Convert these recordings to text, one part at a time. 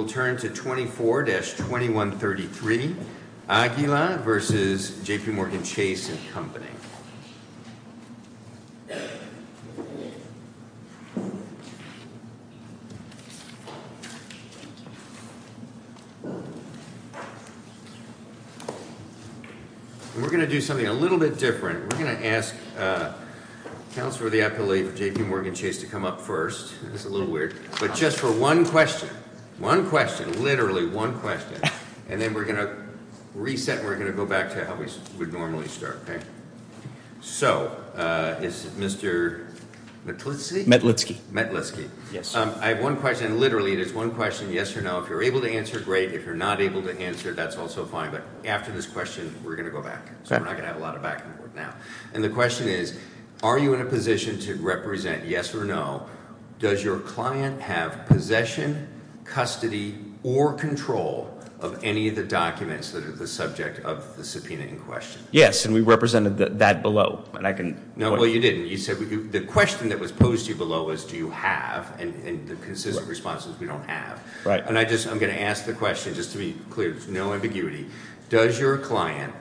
We'll turn to 24-2133, Aguila v. JPMorgan Chase & Co. We're going to do something a little bit different. We're going to ask Councilor of the Appellate of JPMorgan Chase to come up first. It's a little weird. But just for one question, one question, literally one question, and then we're going to reset and we're going to go back to how we would normally start, okay? So is Mr. Metlitsky? Metlitsky. Metlitsky. Yes. I have one question. Literally, it is one question, yes or no. If you're able to answer, great. If you're not able to answer, that's also fine. But after this question, we're going to go back, so we're not going to have a lot of back and forth now. And the question is, are you in a position to represent yes or no? Does your client have possession, custody, or control of any of the documents that are the subject of the subpoena in question? Yes. And we represented that below. And I can... No, well, you didn't. You said the question that was posed to you below was do you have, and the consistent response is we don't have. Right. And I just, I'm going to ask the question, just to be clear, there's no ambiguity. Does your client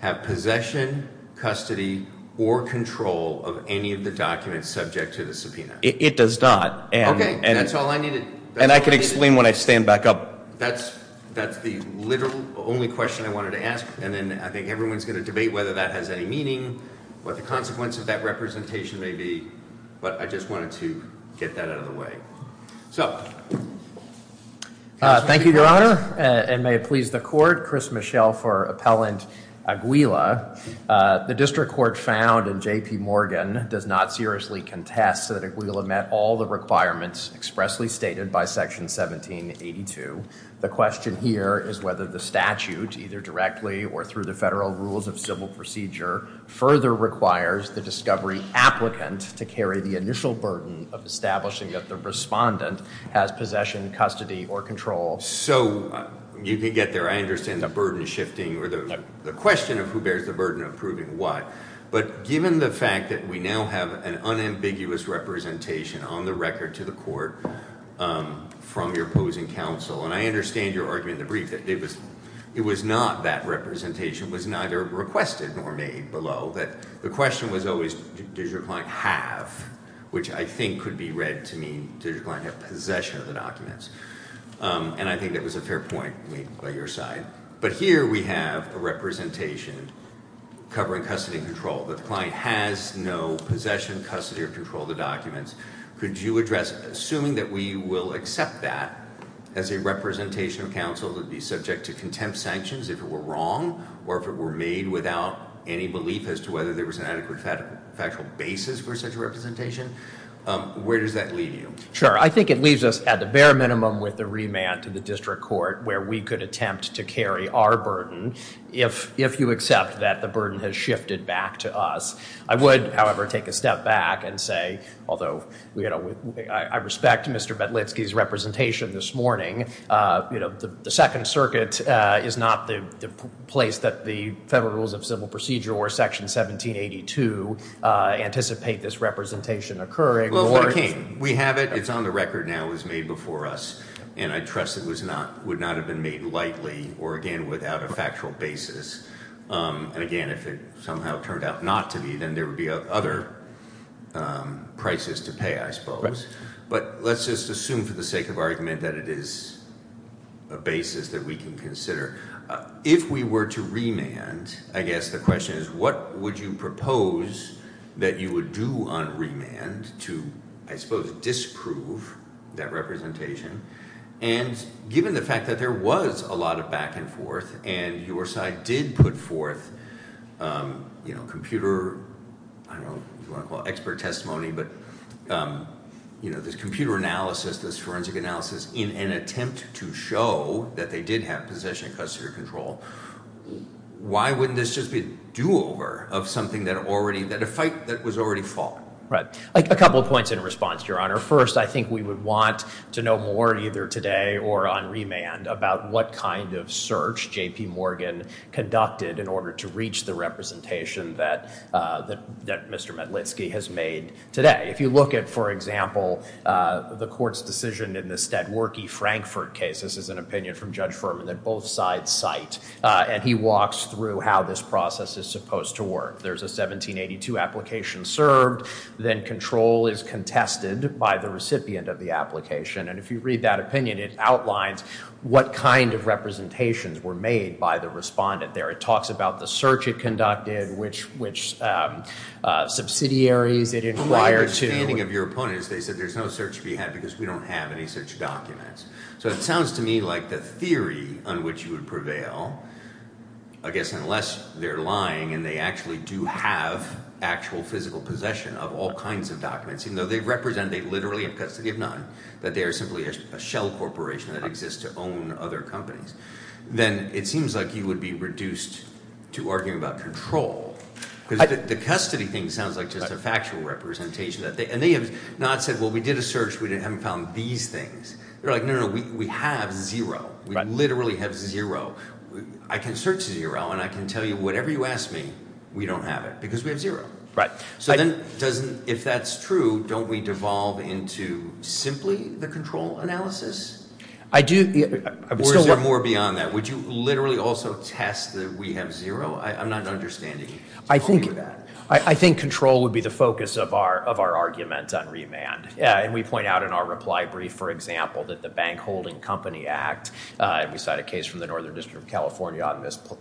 have possession, custody, or control of any of the documents subject to the subpoena? It does not. Okay. That's all I needed. And I can explain when I stand back up. That's the literal only question I wanted to ask, and then I think everyone's going to debate whether that has any meaning, what the consequences of that representation may be, but I just wanted to get that out of the way. So. Thank you, Your Honor, and may it please the Court, Chris Michel for Appellant Aguila. The District Court found, and J.P. Morgan does not seriously contest that Aguila met all the requirements expressly stated by Section 1782. The question here is whether the statute, either directly or through the federal rules of civil procedure, further requires the discovery applicant to carry the initial burden of establishing that the respondent has possession, custody, or control. So you can get there. I understand the burden shifting or the question of who bears the burden of proving what, but given the fact that we now have an unambiguous representation on the record to the Court from your opposing counsel, and I understand your argument in the brief that it was not that representation, it was neither requested nor made below, that the question was always does your client have, which I think could be read to mean does your client have possession of the documents? And I think that was a fair point made by your side. But here we have a representation covering custody and control, that the client has no possession, custody, or control of the documents. Could you address, assuming that we will accept that as a representation of counsel that would be subject to contempt sanctions if it were wrong, or if it were made without any belief as to whether there was an adequate factual basis for such a representation, where does that leave you? Sure. I think it leaves us at the bare minimum with a remand to the District Court where we could attempt to carry our burden if you accept that the burden has shifted back to us. I would, however, take a step back and say, although I respect Mr. Bedlitsky's representation this morning, the Second Circuit is not the place that the Federal Rules of Civil Procedure or Section 1782 anticipate this representation occurring. Well, if it came. We have it. It's on the record now. It was made before us. And I trust it was not, would not have been made lightly or, again, without a factual basis. And again, if it somehow turned out not to be, then there would be other prices to pay, I suppose. Right. But let's just assume for the sake of argument that it is a basis that we can consider. If we were to remand, I guess the question is, what would you propose that you would do on remand to, I suppose, disprove that representation? And given the fact that there was a lot of back and forth, and your side did put forth computer, I don't know what you want to call it, expert testimony, but this computer analysis, this forensic analysis, in an attempt to show that they did have possession and custodial control, why wouldn't this just be a do-over of something that already, that a fight that was already fought? Right. A couple of points in response, Your Honor. First, I think we would want to know more, either today or on remand, about what kind of search J.P. Morgan conducted in order to reach the representation that Mr. Metlitsky has made today. If you look at, for example, the court's decision in the Stadwerkey-Frankford case, this is an opinion from Judge Furman that both sides cite, and he walks through how this process is supposed to work. If there's a 1782 application served, then control is contested by the recipient of the application. And if you read that opinion, it outlines what kind of representations were made by the respondent there. It talks about the search it conducted, which subsidiaries it inquired to. My understanding of your opponent is they said there's no search to be had because we don't have any such documents. So it sounds to me like the theory on which you would prevail, I guess, unless they're lying and they actually do have actual physical possession of all kinds of documents, even though they represent they literally have custody of none, that they are simply a shell corporation that exists to own other companies, then it seems like you would be reduced to arguing about control. The custody thing sounds like just a factual representation. And they have not said, well, we did a search, we haven't found these things. They're like, no, no, no, we have zero. We literally have zero. I can search zero and I can tell you whatever you ask me, we don't have it because we have zero. So then if that's true, don't we devolve into simply the control analysis? I do. Or is there more beyond that? Would you literally also test that we have zero? I'm not understanding you with that. I think control would be the focus of our argument on remand. And we point out in our reply brief, for example, that the Bank Holding Company Act, and we just heard from California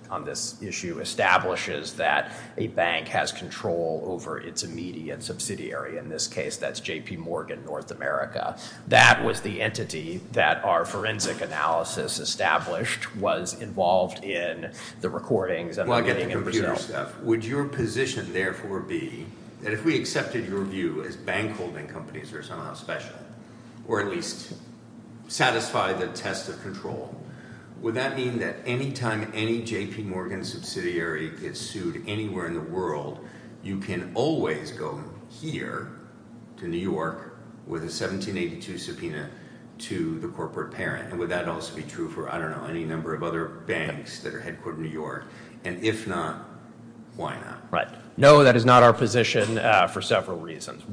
on this issue, establishes that a bank has control over its immediate subsidiary. In this case, that's JP Morgan North America. That was the entity that our forensic analysis established was involved in the recordings and the money in Brazil. Well, I get the computer stuff. Would your position, therefore, be that if we accepted your view as bank holding companies or somehow special, or at least satisfy the test of control, would that mean that any time any JP Morgan subsidiary gets sued anywhere in the world, you can always go here to New York with a 1782 subpoena to the corporate parent? And would that also be true for, I don't know, any number of other banks that are headquartered in New York? And if not, why not? Right. No, that is not our position for several reasons.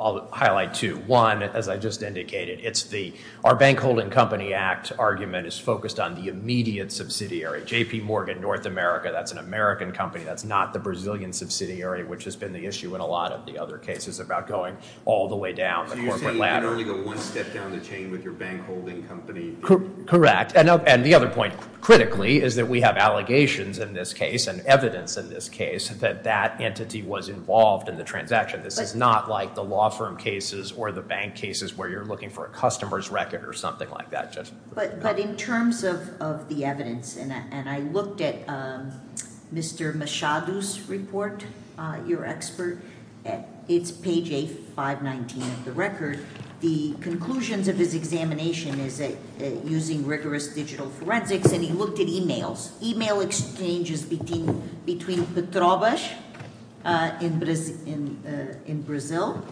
I'll highlight two. One, as I just indicated, it's the, our Bank Holding Company Act argument is focused on the immediate subsidiary, JP Morgan North America. That's an American company. That's not the Brazilian subsidiary, which has been the issue in a lot of the other cases about going all the way down the corporate ladder. So you're saying you can only go one step down the chain with your bank holding company? Correct. And the other point, critically, is that we have allegations in this case, and evidence in this case, that that entity was involved in the transaction. This is not like the law firm cases or the bank cases where you're looking for a customer's record or something like that. But in terms of the evidence, and I looked at Mr. Machado's report, your expert, it's page 8, 519 of the record, the conclusions of his examination is that using rigorous digital forensics, and he looked at emails. Email exchanges between Petrobras in Brazil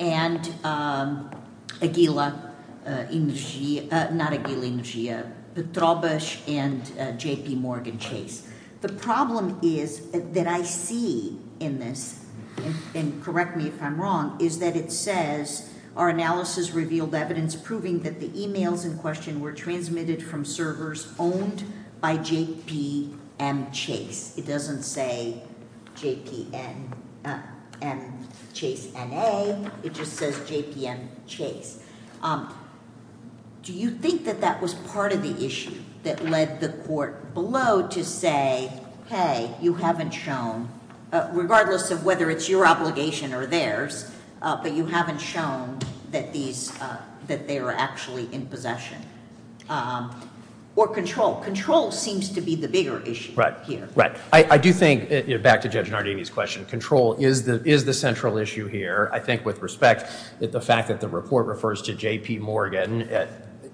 and Aguila, not Aguila, Petrobras and JP Morgan Chase. The problem is, that I see in this, and correct me if I'm wrong, is that it says, our analysis revealed evidence proving that the emails in question were transmitted from servers owned by JPM Chase. It doesn't say JPM Chase NA, it just says JPM Chase. Do you think that that was part of the issue that led the court below to say, hey, you haven't shown, regardless of whether it's your obligation or theirs, but you haven't shown that they were actually in possession? Or control? Control seems to be the bigger issue here. I do think, back to Judge Nardini's question, control is the central issue here. I think with respect, the fact that the report refers to JP Morgan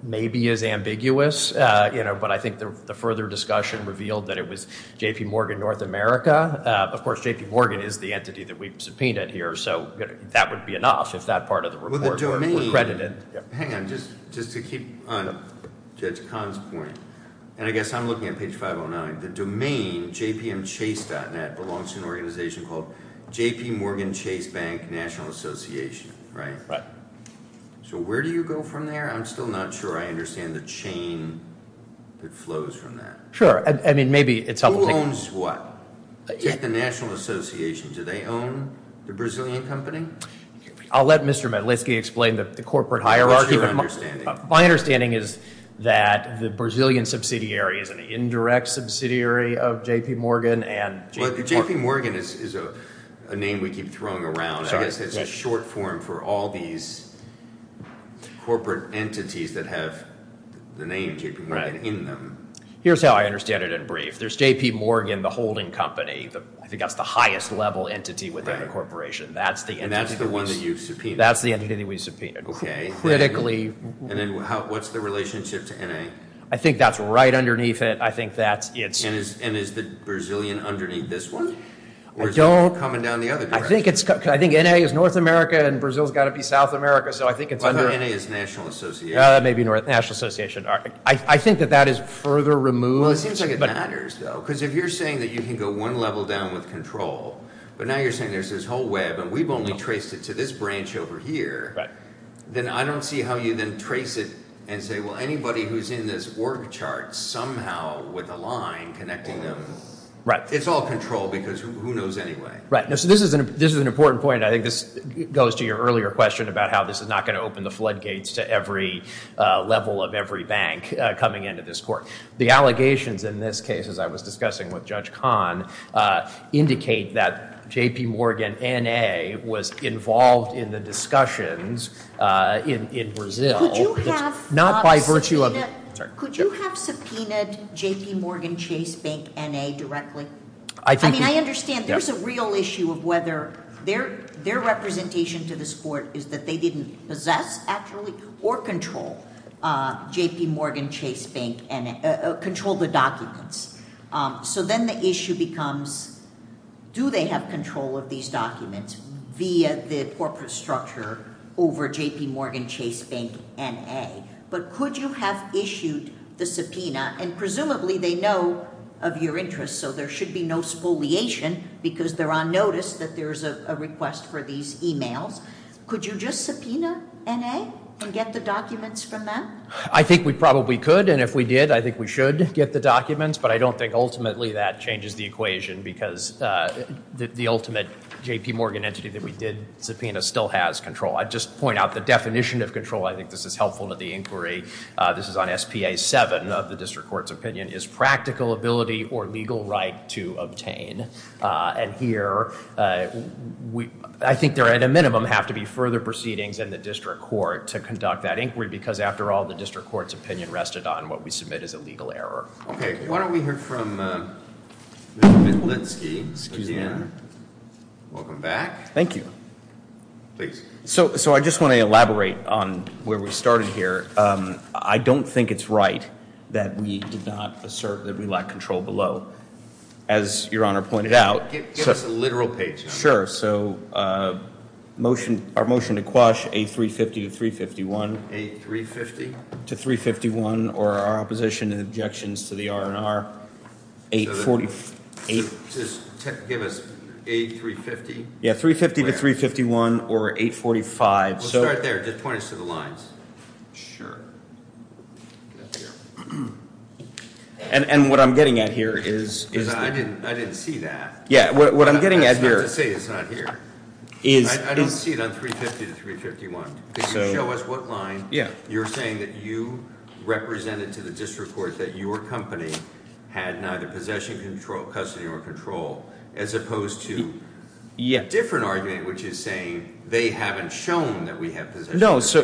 maybe is ambiguous, but I think the further discussion revealed that it was JP Morgan North America. Of course, JP Morgan is the entity that we've subpoenaed here, so that would be enough if that part of the report were credited. Hang on, just to keep on Judge Kahn's point, and I guess I'm looking at page 509, the domain jpmchase.net belongs to an organization called JP Morgan Chase Bank National Association, right? Right. Where do you go from there? I'm still not sure I understand the chain that flows from that. Sure. I mean, maybe it's... Who owns what? The National Association, do they own the Brazilian company? I'll let Mr. Medlitsky explain the corporate hierarchy. My understanding is that the Brazilian subsidiary is an indirect subsidiary of JP Morgan and... JP Morgan is a name we keep throwing around. I guess it's a short form for all these corporate entities that have the name JP Morgan in them. Here's how I understand it in brief. There's JP Morgan, the holding company. I think that's the highest level entity within the corporation. And that's the one that you've subpoenaed? That's the entity that we've subpoenaed. Okay. Critically... And then what's the relationship to N.A.? I think that's right underneath it. I think that's... And is the Brazilian underneath this one? I don't... Or is it coming down the other direction? I think N.A. is North America, and Brazil's got to be South America, so I think it's under... I thought N.A. is National Association. That may be National Association. I think that that is further removed... Well, it seems like it matters, though, because if you're saying that you can go one level down with control, but now you're saying there's this whole web, and we've only traced it to this branch over here... Then I don't see how you then trace it and say, well, anybody who's in this org chart somehow with a line connecting them... Right. It's all control because who knows anyway? Right. So this is an important point. I think this goes to your earlier question about how this is not going to open the floodgates to every level of every bank coming into this court. The allegations in this case, as I was discussing with Judge Kahn, indicate that J.P. Morgan N.A. was involved in the discussions in Brazil... Could you have... Not by virtue of... Could you have subpoenaed J.P. Morgan Chase Bank N.A. directly? I think... So, then the issue becomes, do they have control of these documents via the corporate structure over J.P. Morgan Chase Bank N.A.? But, could you have issued the subpoena, and presumably they know of your interest, so there should be no spoliation... because they're on notice that there's a request for these e-mails. Could you just subpoena N.A. and get the documents from them? I think we probably could, and if we did, I think we should get the documents. But, I don't think ultimately that changes the equation because the ultimate J.P. Morgan entity that we did subpoena still has control. I'd just point out the definition of control. I think this is helpful to the inquiry. This is on S.P.A. 7 of the district court's opinion, is practical ability or legal right to obtain. And here, I think there at a minimum have to be further proceedings in the district court to conduct that inquiry... while the district court's opinion rested on what we submit as a legal error. Okay. Why don't we hear from Mr. Vitlitsky again. Welcome back. Thank you. Please. So, I just want to elaborate on where we started here. I don't think it's right that we did not assert that we lack control below. As Your Honor pointed out... Give us a literal page. Sure. So, our motion to quash A350 to 351. A350? To 351, or our opposition and objections to the R&R 840... Just give us A350. Yeah, 350 to 351 or 845. We'll start there. Just point us to the lines. Sure. And, what I'm getting at here is... I didn't see that. Yeah, what I'm getting at here... That's not to say it's not here. I don't see it on 350 to 351. If you show us what line... Yeah.... you're saying that you represented to the district court that your company had neither possession, custody, or control, as opposed to... Yeah.... a different argument, which is saying they haven't shown that we have possession. No, so...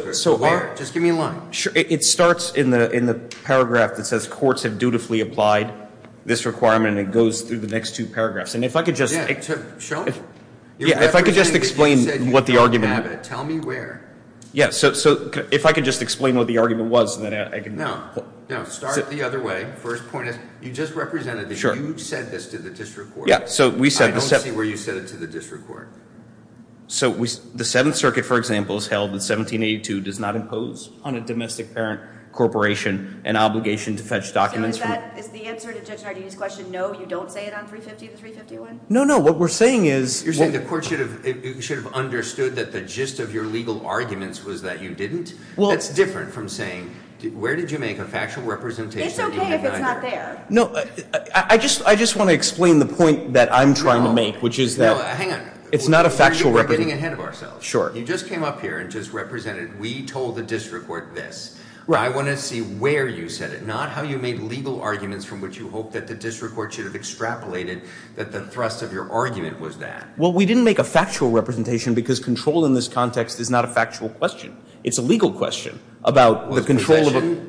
Just give me a line. It starts in the paragraph that says courts have dutifully applied this requirement, and it goes through the next two paragraphs. And, if I could just... Yeah, show me. Yeah, if I could just explain what the argument... Yeah, so if I could just explain what the argument was, then I can... No, no, start it the other way. First point is, you just represented that you said this to the district court. Yeah, so we said... I don't see where you said it to the district court. So, the Seventh Circuit, for example, has held that 1782 does not impose on a domestic parent corporation an obligation to fetch documents from... So, is that... is the answer to Judge Nardini's question, no, you don't say it on 350 to 351? No, no, what we're saying is... Well... It's okay if it's not there. No, I just want to explain the point that I'm trying to make, which is that... No, hang on. It's not a factual... We're getting ahead of ourselves. Sure. You just came up here and just represented, we told the district court this. Right. I want to see where you said it, not how you made legal arguments from which you hope that the district court should have extrapolated that the thrust of your argument was that. Well, we didn't make a factual representation because control in this context is not a factual question. It's a legal question about the control of...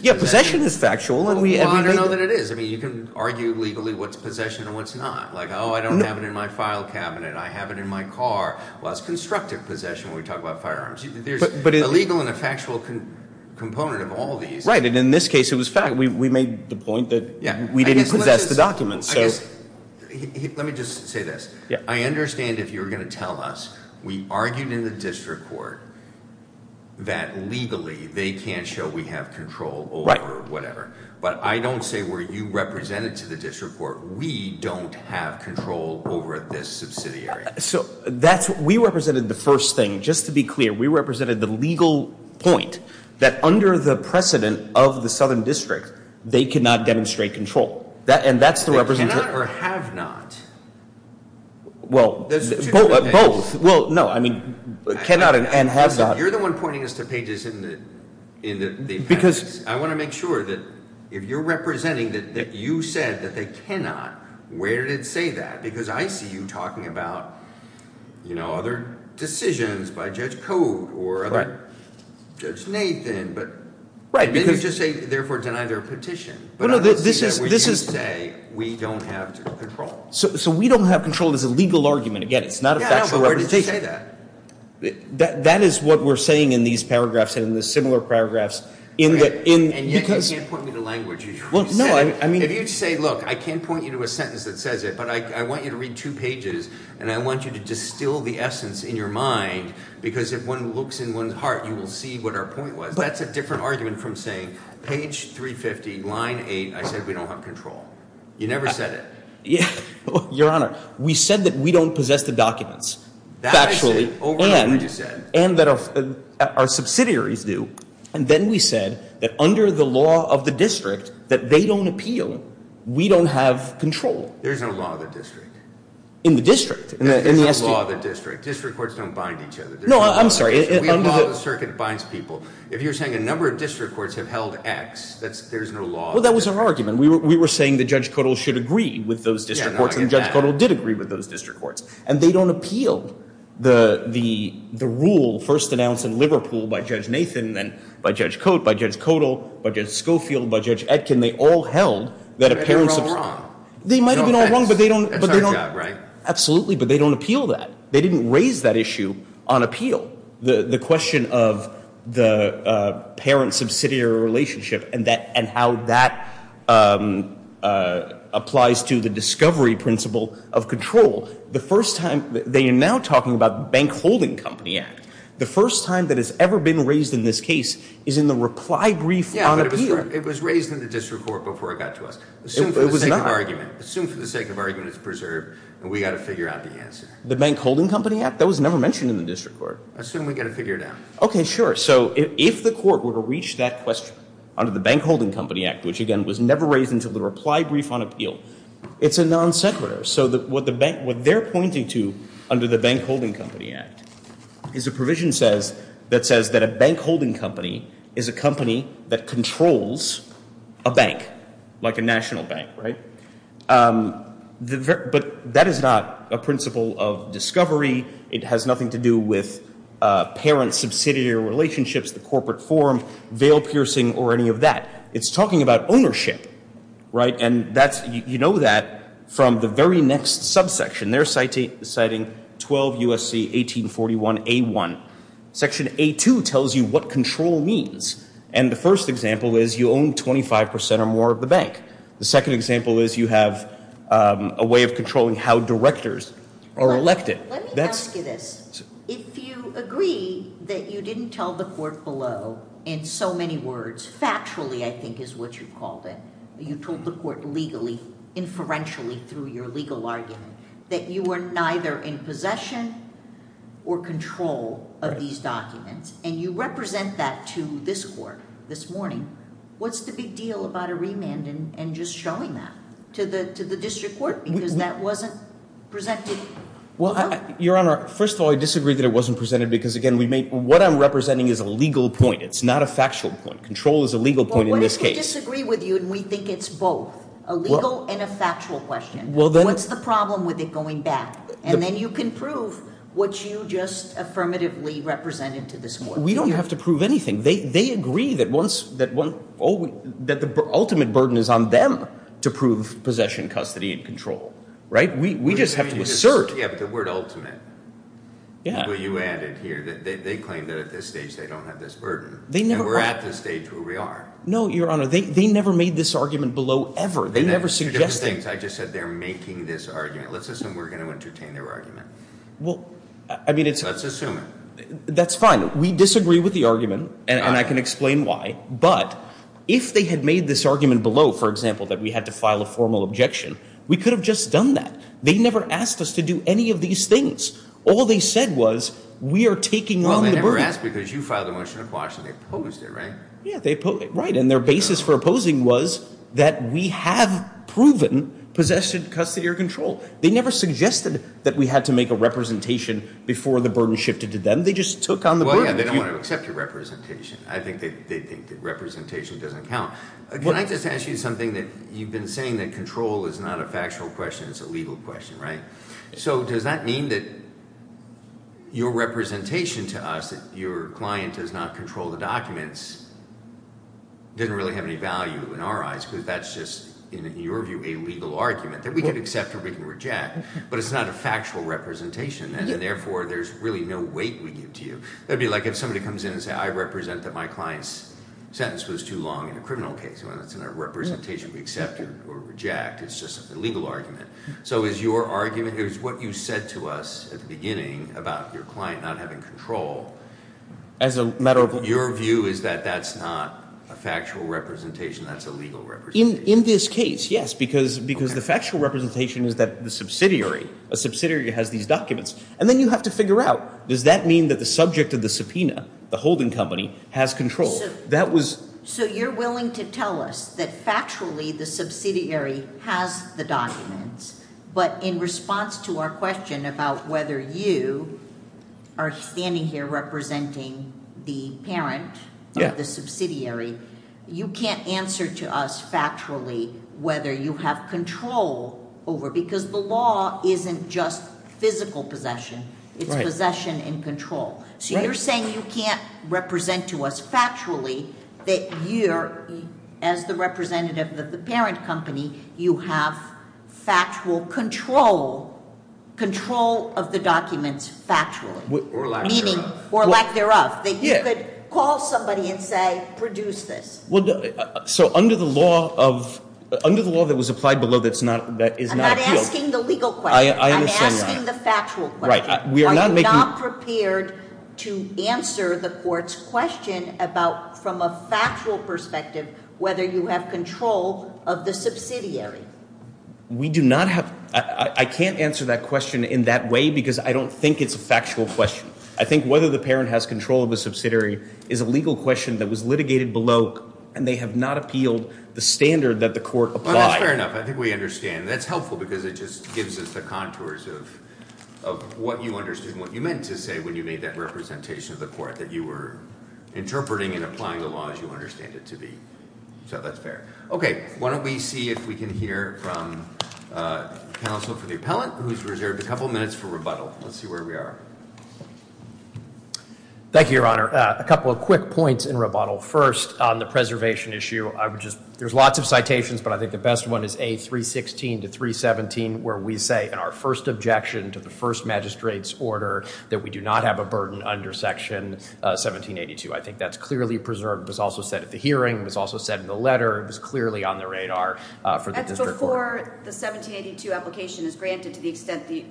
Yeah, possession is factual. Well, I don't know that it is. I mean, you can argue legally what's possession and what's not. Like, oh, I don't have it in my file cabinet. I have it in my car. Well, that's constructive possession when we talk about firearms. There's a legal and a factual component of all these. Right, and in this case, it was fact. We made the point that we didn't possess the documents, so... Let me just say this. Yeah. I understand if you're going to tell us we argued in the district court that legally they can't show we have control over whatever. Right. But I don't say were you represented to the district court. We don't have control over this subsidiary. So, we represented the first thing. Just to be clear, we represented the legal point that under the precedent of the southern district, they cannot demonstrate control, and that's the representation... Or have not. Well, both. Well, no. I mean, cannot and have not. You're the one pointing us to pages in the appendix. Because... I want to make sure that if you're representing that you said that they cannot, where did it say that? Because I see you talking about, you know, other decisions by Judge Code or other... Judge Nathan, but... Right, because... Then you just say, therefore, deny their petition. Well, no, this is... Which you say, we don't have control. So, we don't have control is a legal argument. Again, it's not a factual representation. Yeah, but where did you say that? That is what we're saying in these paragraphs and in the similar paragraphs in the... And yet, you can't point me to language. Well, no, I mean... If you say, look, I can't point you to a sentence that says it, but I want you to read two pages, and I want you to distill the essence in your mind, because if one looks in one's heart, you will see what our point was. But that's a different argument from saying page 350, line 8, I said we don't have control. You never said it. Your Honor, we said that we don't possess the documents factually... That I say over and over that you said. And that our subsidiaries do. And then we said that under the law of the district, that they don't appeal, we don't have control. There's no law of the district. In the district, in the... There's no law of the district. District courts don't bind each other. No, I'm sorry, under the... You're saying a number of district courts have held X. There's no law... Well, that was our argument. We were saying that Judge Codal should agree with those district courts, and Judge Codal did agree with those district courts. And they don't appeal the rule first announced in Liverpool by Judge Nathan, then by Judge Cote, by Judge Codal, by Judge Schofield, by Judge Etkin. They all held that appearance of... They're all wrong. They might have been all wrong, but they don't... That's our job, right? Absolutely, but they don't appeal that. They didn't raise that issue on appeal. The question of the parent-subsidiary relationship and how that applies to the discovery principle of control, the first time... They are now talking about the Bank Holding Company Act. The first time that it's ever been raised in this case is in the reply brief on appeal. Yeah, but it was raised in the district court before it got to us. Assume for the sake of argument. It was not. Assume for the sake of argument it's preserved, and we've got to figure out the answer. The Bank Holding Company Act? That was never mentioned in the district court. Assume we've got to figure it out. Okay, sure. So, if the court were to reach that question under the Bank Holding Company Act, which, again, was never raised until the reply brief on appeal, it's a non sequitur. So, what they're pointing to under the Bank Holding Company Act is a provision that says that a bank holding company is a company that controls a bank, like a national bank, right? But that is not a principle of discovery. It has nothing to do with parent-subsidiary relationships, the corporate form, veil-piercing, or any of that. It's talking about ownership, right? And you know that from the very next subsection. They're citing 12 U.S.C. 1841a1. Section a2 tells you what control means. And the first example is you own 25 percent or more of the bank. The second example is you have a way of controlling how directors are elected. Let me ask you this. If you agree that you didn't tell the court below in so many words, factually I think is what you called it, you told the court legally, inferentially through your legal argument, that you were neither in possession or control of these documents. And you represent that to this court this morning. What's the big deal about a remand and just showing that to the district court because that wasn't presented? Well, Your Honor, first of all, I disagree that it wasn't presented because, again, what I'm representing is a legal point. It's not a factual point. Control is a legal point in this case. Well, what if we disagree with you and we think it's both a legal and a factual question? What's the problem with it going back? And then you can prove what you just affirmatively represented to this court. We don't have to prove anything. They agree that the ultimate burden is on them to prove possession, custody, and control. Right? We just have to assert. Yeah, but the word ultimate. Yeah. Well, you added here that they claim that at this stage they don't have this burden. And we're at this stage where we are. No, Your Honor. They never made this argument below ever. They never suggested it. I just said they're making this argument. Let's assume we're going to entertain their argument. Let's assume it. That's fine. We disagree with the argument, and I can explain why. But if they had made this argument below, for example, that we had to file a formal objection, we could have just done that. They never asked us to do any of these things. All they said was we are taking on the burden. Well, they never asked because you filed a motion of caution. They opposed it, right? Yeah, they opposed it, right. And their basis for opposing was that we have proven possession, custody, or control. They never suggested that we had to make a representation before the burden shifted to them. They just took on the burden. Well, yeah, they don't want to accept your representation. I think they think that representation doesn't count. Can I just ask you something? You've been saying that control is not a factual question. It's a legal question, right? So does that mean that your representation to us, that your client does not control the documents, doesn't really have any value in our eyes? Because that's just, in your view, a legal argument that we can accept or we can reject. But it's not a factual representation, and therefore there's really no weight we give to you. That would be like if somebody comes in and says I represent that my client's sentence was too long in a criminal case. That's not a representation we accept or reject. It's just a legal argument. So is your argument, is what you said to us at the beginning about your client not having control, your view is that that's not a factual representation, that's a legal representation? In this case, yes, because the factual representation is that the subsidiary, a subsidiary has these documents. And then you have to figure out, does that mean that the subject of the subpoena, the holding company, has control? So you're willing to tell us that factually the subsidiary has the documents, but in response to our question about whether you are standing here representing the parent of the subsidiary, you can't answer to us factually whether you have control over, because the law isn't just physical possession. It's possession and control. So you're saying you can't represent to us factually that you're, as the representative of the parent company, you have factual control, control of the documents factually. Or lack thereof. Meaning, or lack thereof, that you could call somebody and say produce this. Well, so under the law of, under the law that was applied below that is not appealed. I'm not asking the legal question. I understand that. I'm asking the factual question. Right. I'm not prepared to answer the court's question about, from a factual perspective, whether you have control of the subsidiary. We do not have, I can't answer that question in that way because I don't think it's a factual question. I think whether the parent has control of the subsidiary is a legal question that was litigated below, and they have not appealed the standard that the court applied. Well, that's fair enough. I think we understand. That's helpful because it just gives us the contours of what you understood and what you meant to say when you made that representation of the court. That you were interpreting and applying the law as you understand it to be. So that's fair. Okay. Why don't we see if we can hear from counsel for the appellant who's reserved a couple minutes for rebuttal. Let's see where we are. Thank you, Your Honor. A couple of quick points in rebuttal. First, on the preservation issue, there's lots of citations, but I think the best one is A316 to 317, where we say in our first objection to the first magistrate's order that we do not have a burden under Section 1782. I think that's clearly preserved. It was also said at the hearing. It was also said in the letter. It was clearly on the radar for the district court. That's before the 1782 application is granted to the extent the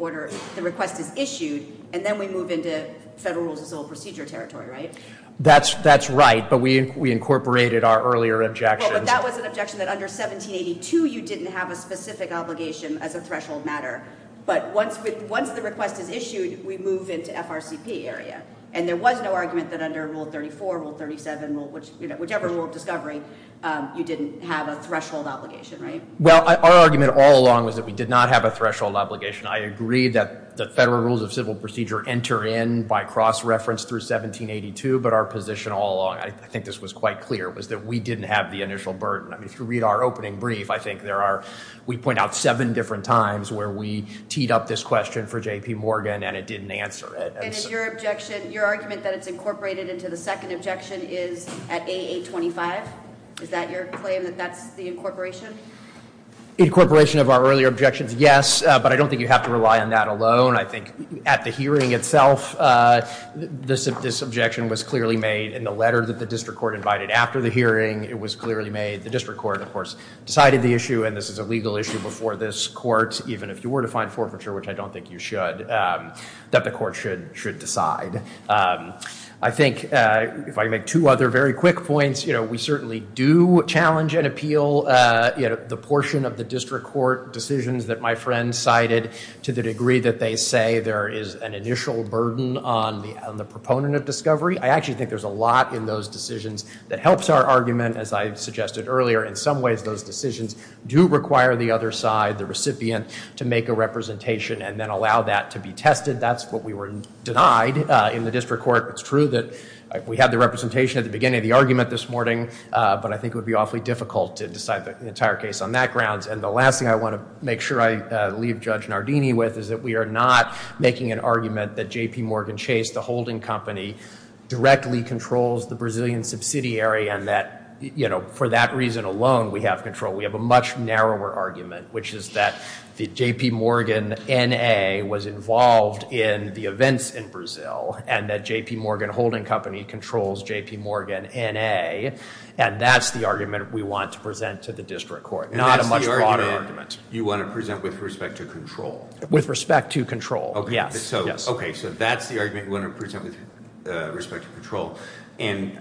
request is issued, and then we move into federal rules of civil procedure territory, right? That's right. But we incorporated our earlier objections. Well, but that was an objection that under 1782 you didn't have a specific obligation as a threshold matter. But once the request is issued, we move into FRCP area. And there was no argument that under Rule 34, Rule 37, whichever rule of discovery, you didn't have a threshold obligation, right? Well, our argument all along was that we did not have a threshold obligation. I agree that the federal rules of civil procedure enter in by cross-reference through 1782, but our position all along, I think this was quite clear, was that we didn't have the initial burden. I mean, if you read our opening brief, I think there are, we point out seven different times where we teed up this question for J.P. Morgan and it didn't answer it. And is your objection, your argument that it's incorporated into the second objection is at A825? Is that your claim that that's the incorporation? Incorporation of our earlier objections, yes. But I don't think you have to rely on that alone. I think at the hearing itself, this objection was clearly made in the letter that the district court invited after the hearing. It was clearly made. The district court, of course, decided the issue. And this is a legal issue before this court, even if you were to find forfeiture, which I don't think you should, that the court should decide. I think if I make two other very quick points, you know, we certainly do challenge and appeal, you know, the portion of the district court decisions that my friend cited to the degree that they say there is an initial burden on the proponent of discovery. I actually think there's a lot in those decisions that helps our argument, as I suggested earlier. In some ways, those decisions do require the other side, the recipient, to make a representation and then allow that to be tested. That's what we were denied in the district court. It's true that we had the representation at the beginning of the argument this morning, but I think it would be awfully difficult to decide the entire case on that grounds. And the last thing I want to make sure I leave Judge Nardini with is that we are not making an argument that JPMorgan Chase, the holding company, directly controls the Brazilian subsidiary and that, you know, for that reason alone, we have control. We have a much narrower argument, which is that the JPMorgan N.A. was involved in the events in Brazil and that JPMorgan holding company controls JPMorgan N.A. And that's the argument we want to present to the district court, not a much broader argument. And that's the argument you want to present with respect to control? With respect to control, yes. Okay, so that's the argument you want to present with respect to control. And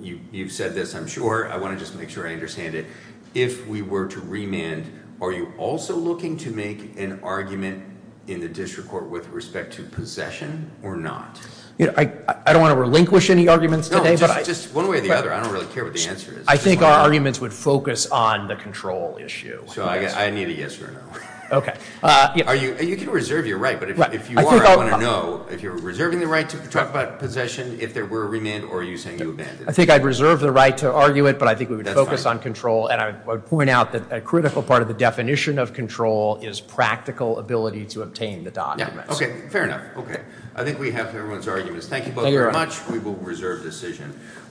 you've said this, I'm sure. I want to just make sure I understand it. If we were to remand, are you also looking to make an argument in the district court with respect to possession or not? I don't want to relinquish any arguments today. No, just one way or the other. I don't really care what the answer is. I think our arguments would focus on the control issue. So I need a yes or a no. Okay. You can reserve your right, but if you are, I want to know, if you're reserving the right to talk about possession, if there were a remand, or are you saying you abandoned it? I think I'd reserve the right to argue it, but I think we would focus on control. And I would point out that a critical part of the definition of control is practical ability to obtain the documents. Okay, fair enough. I think we have everyone's arguments. Thank you both very much. We will reserve decision.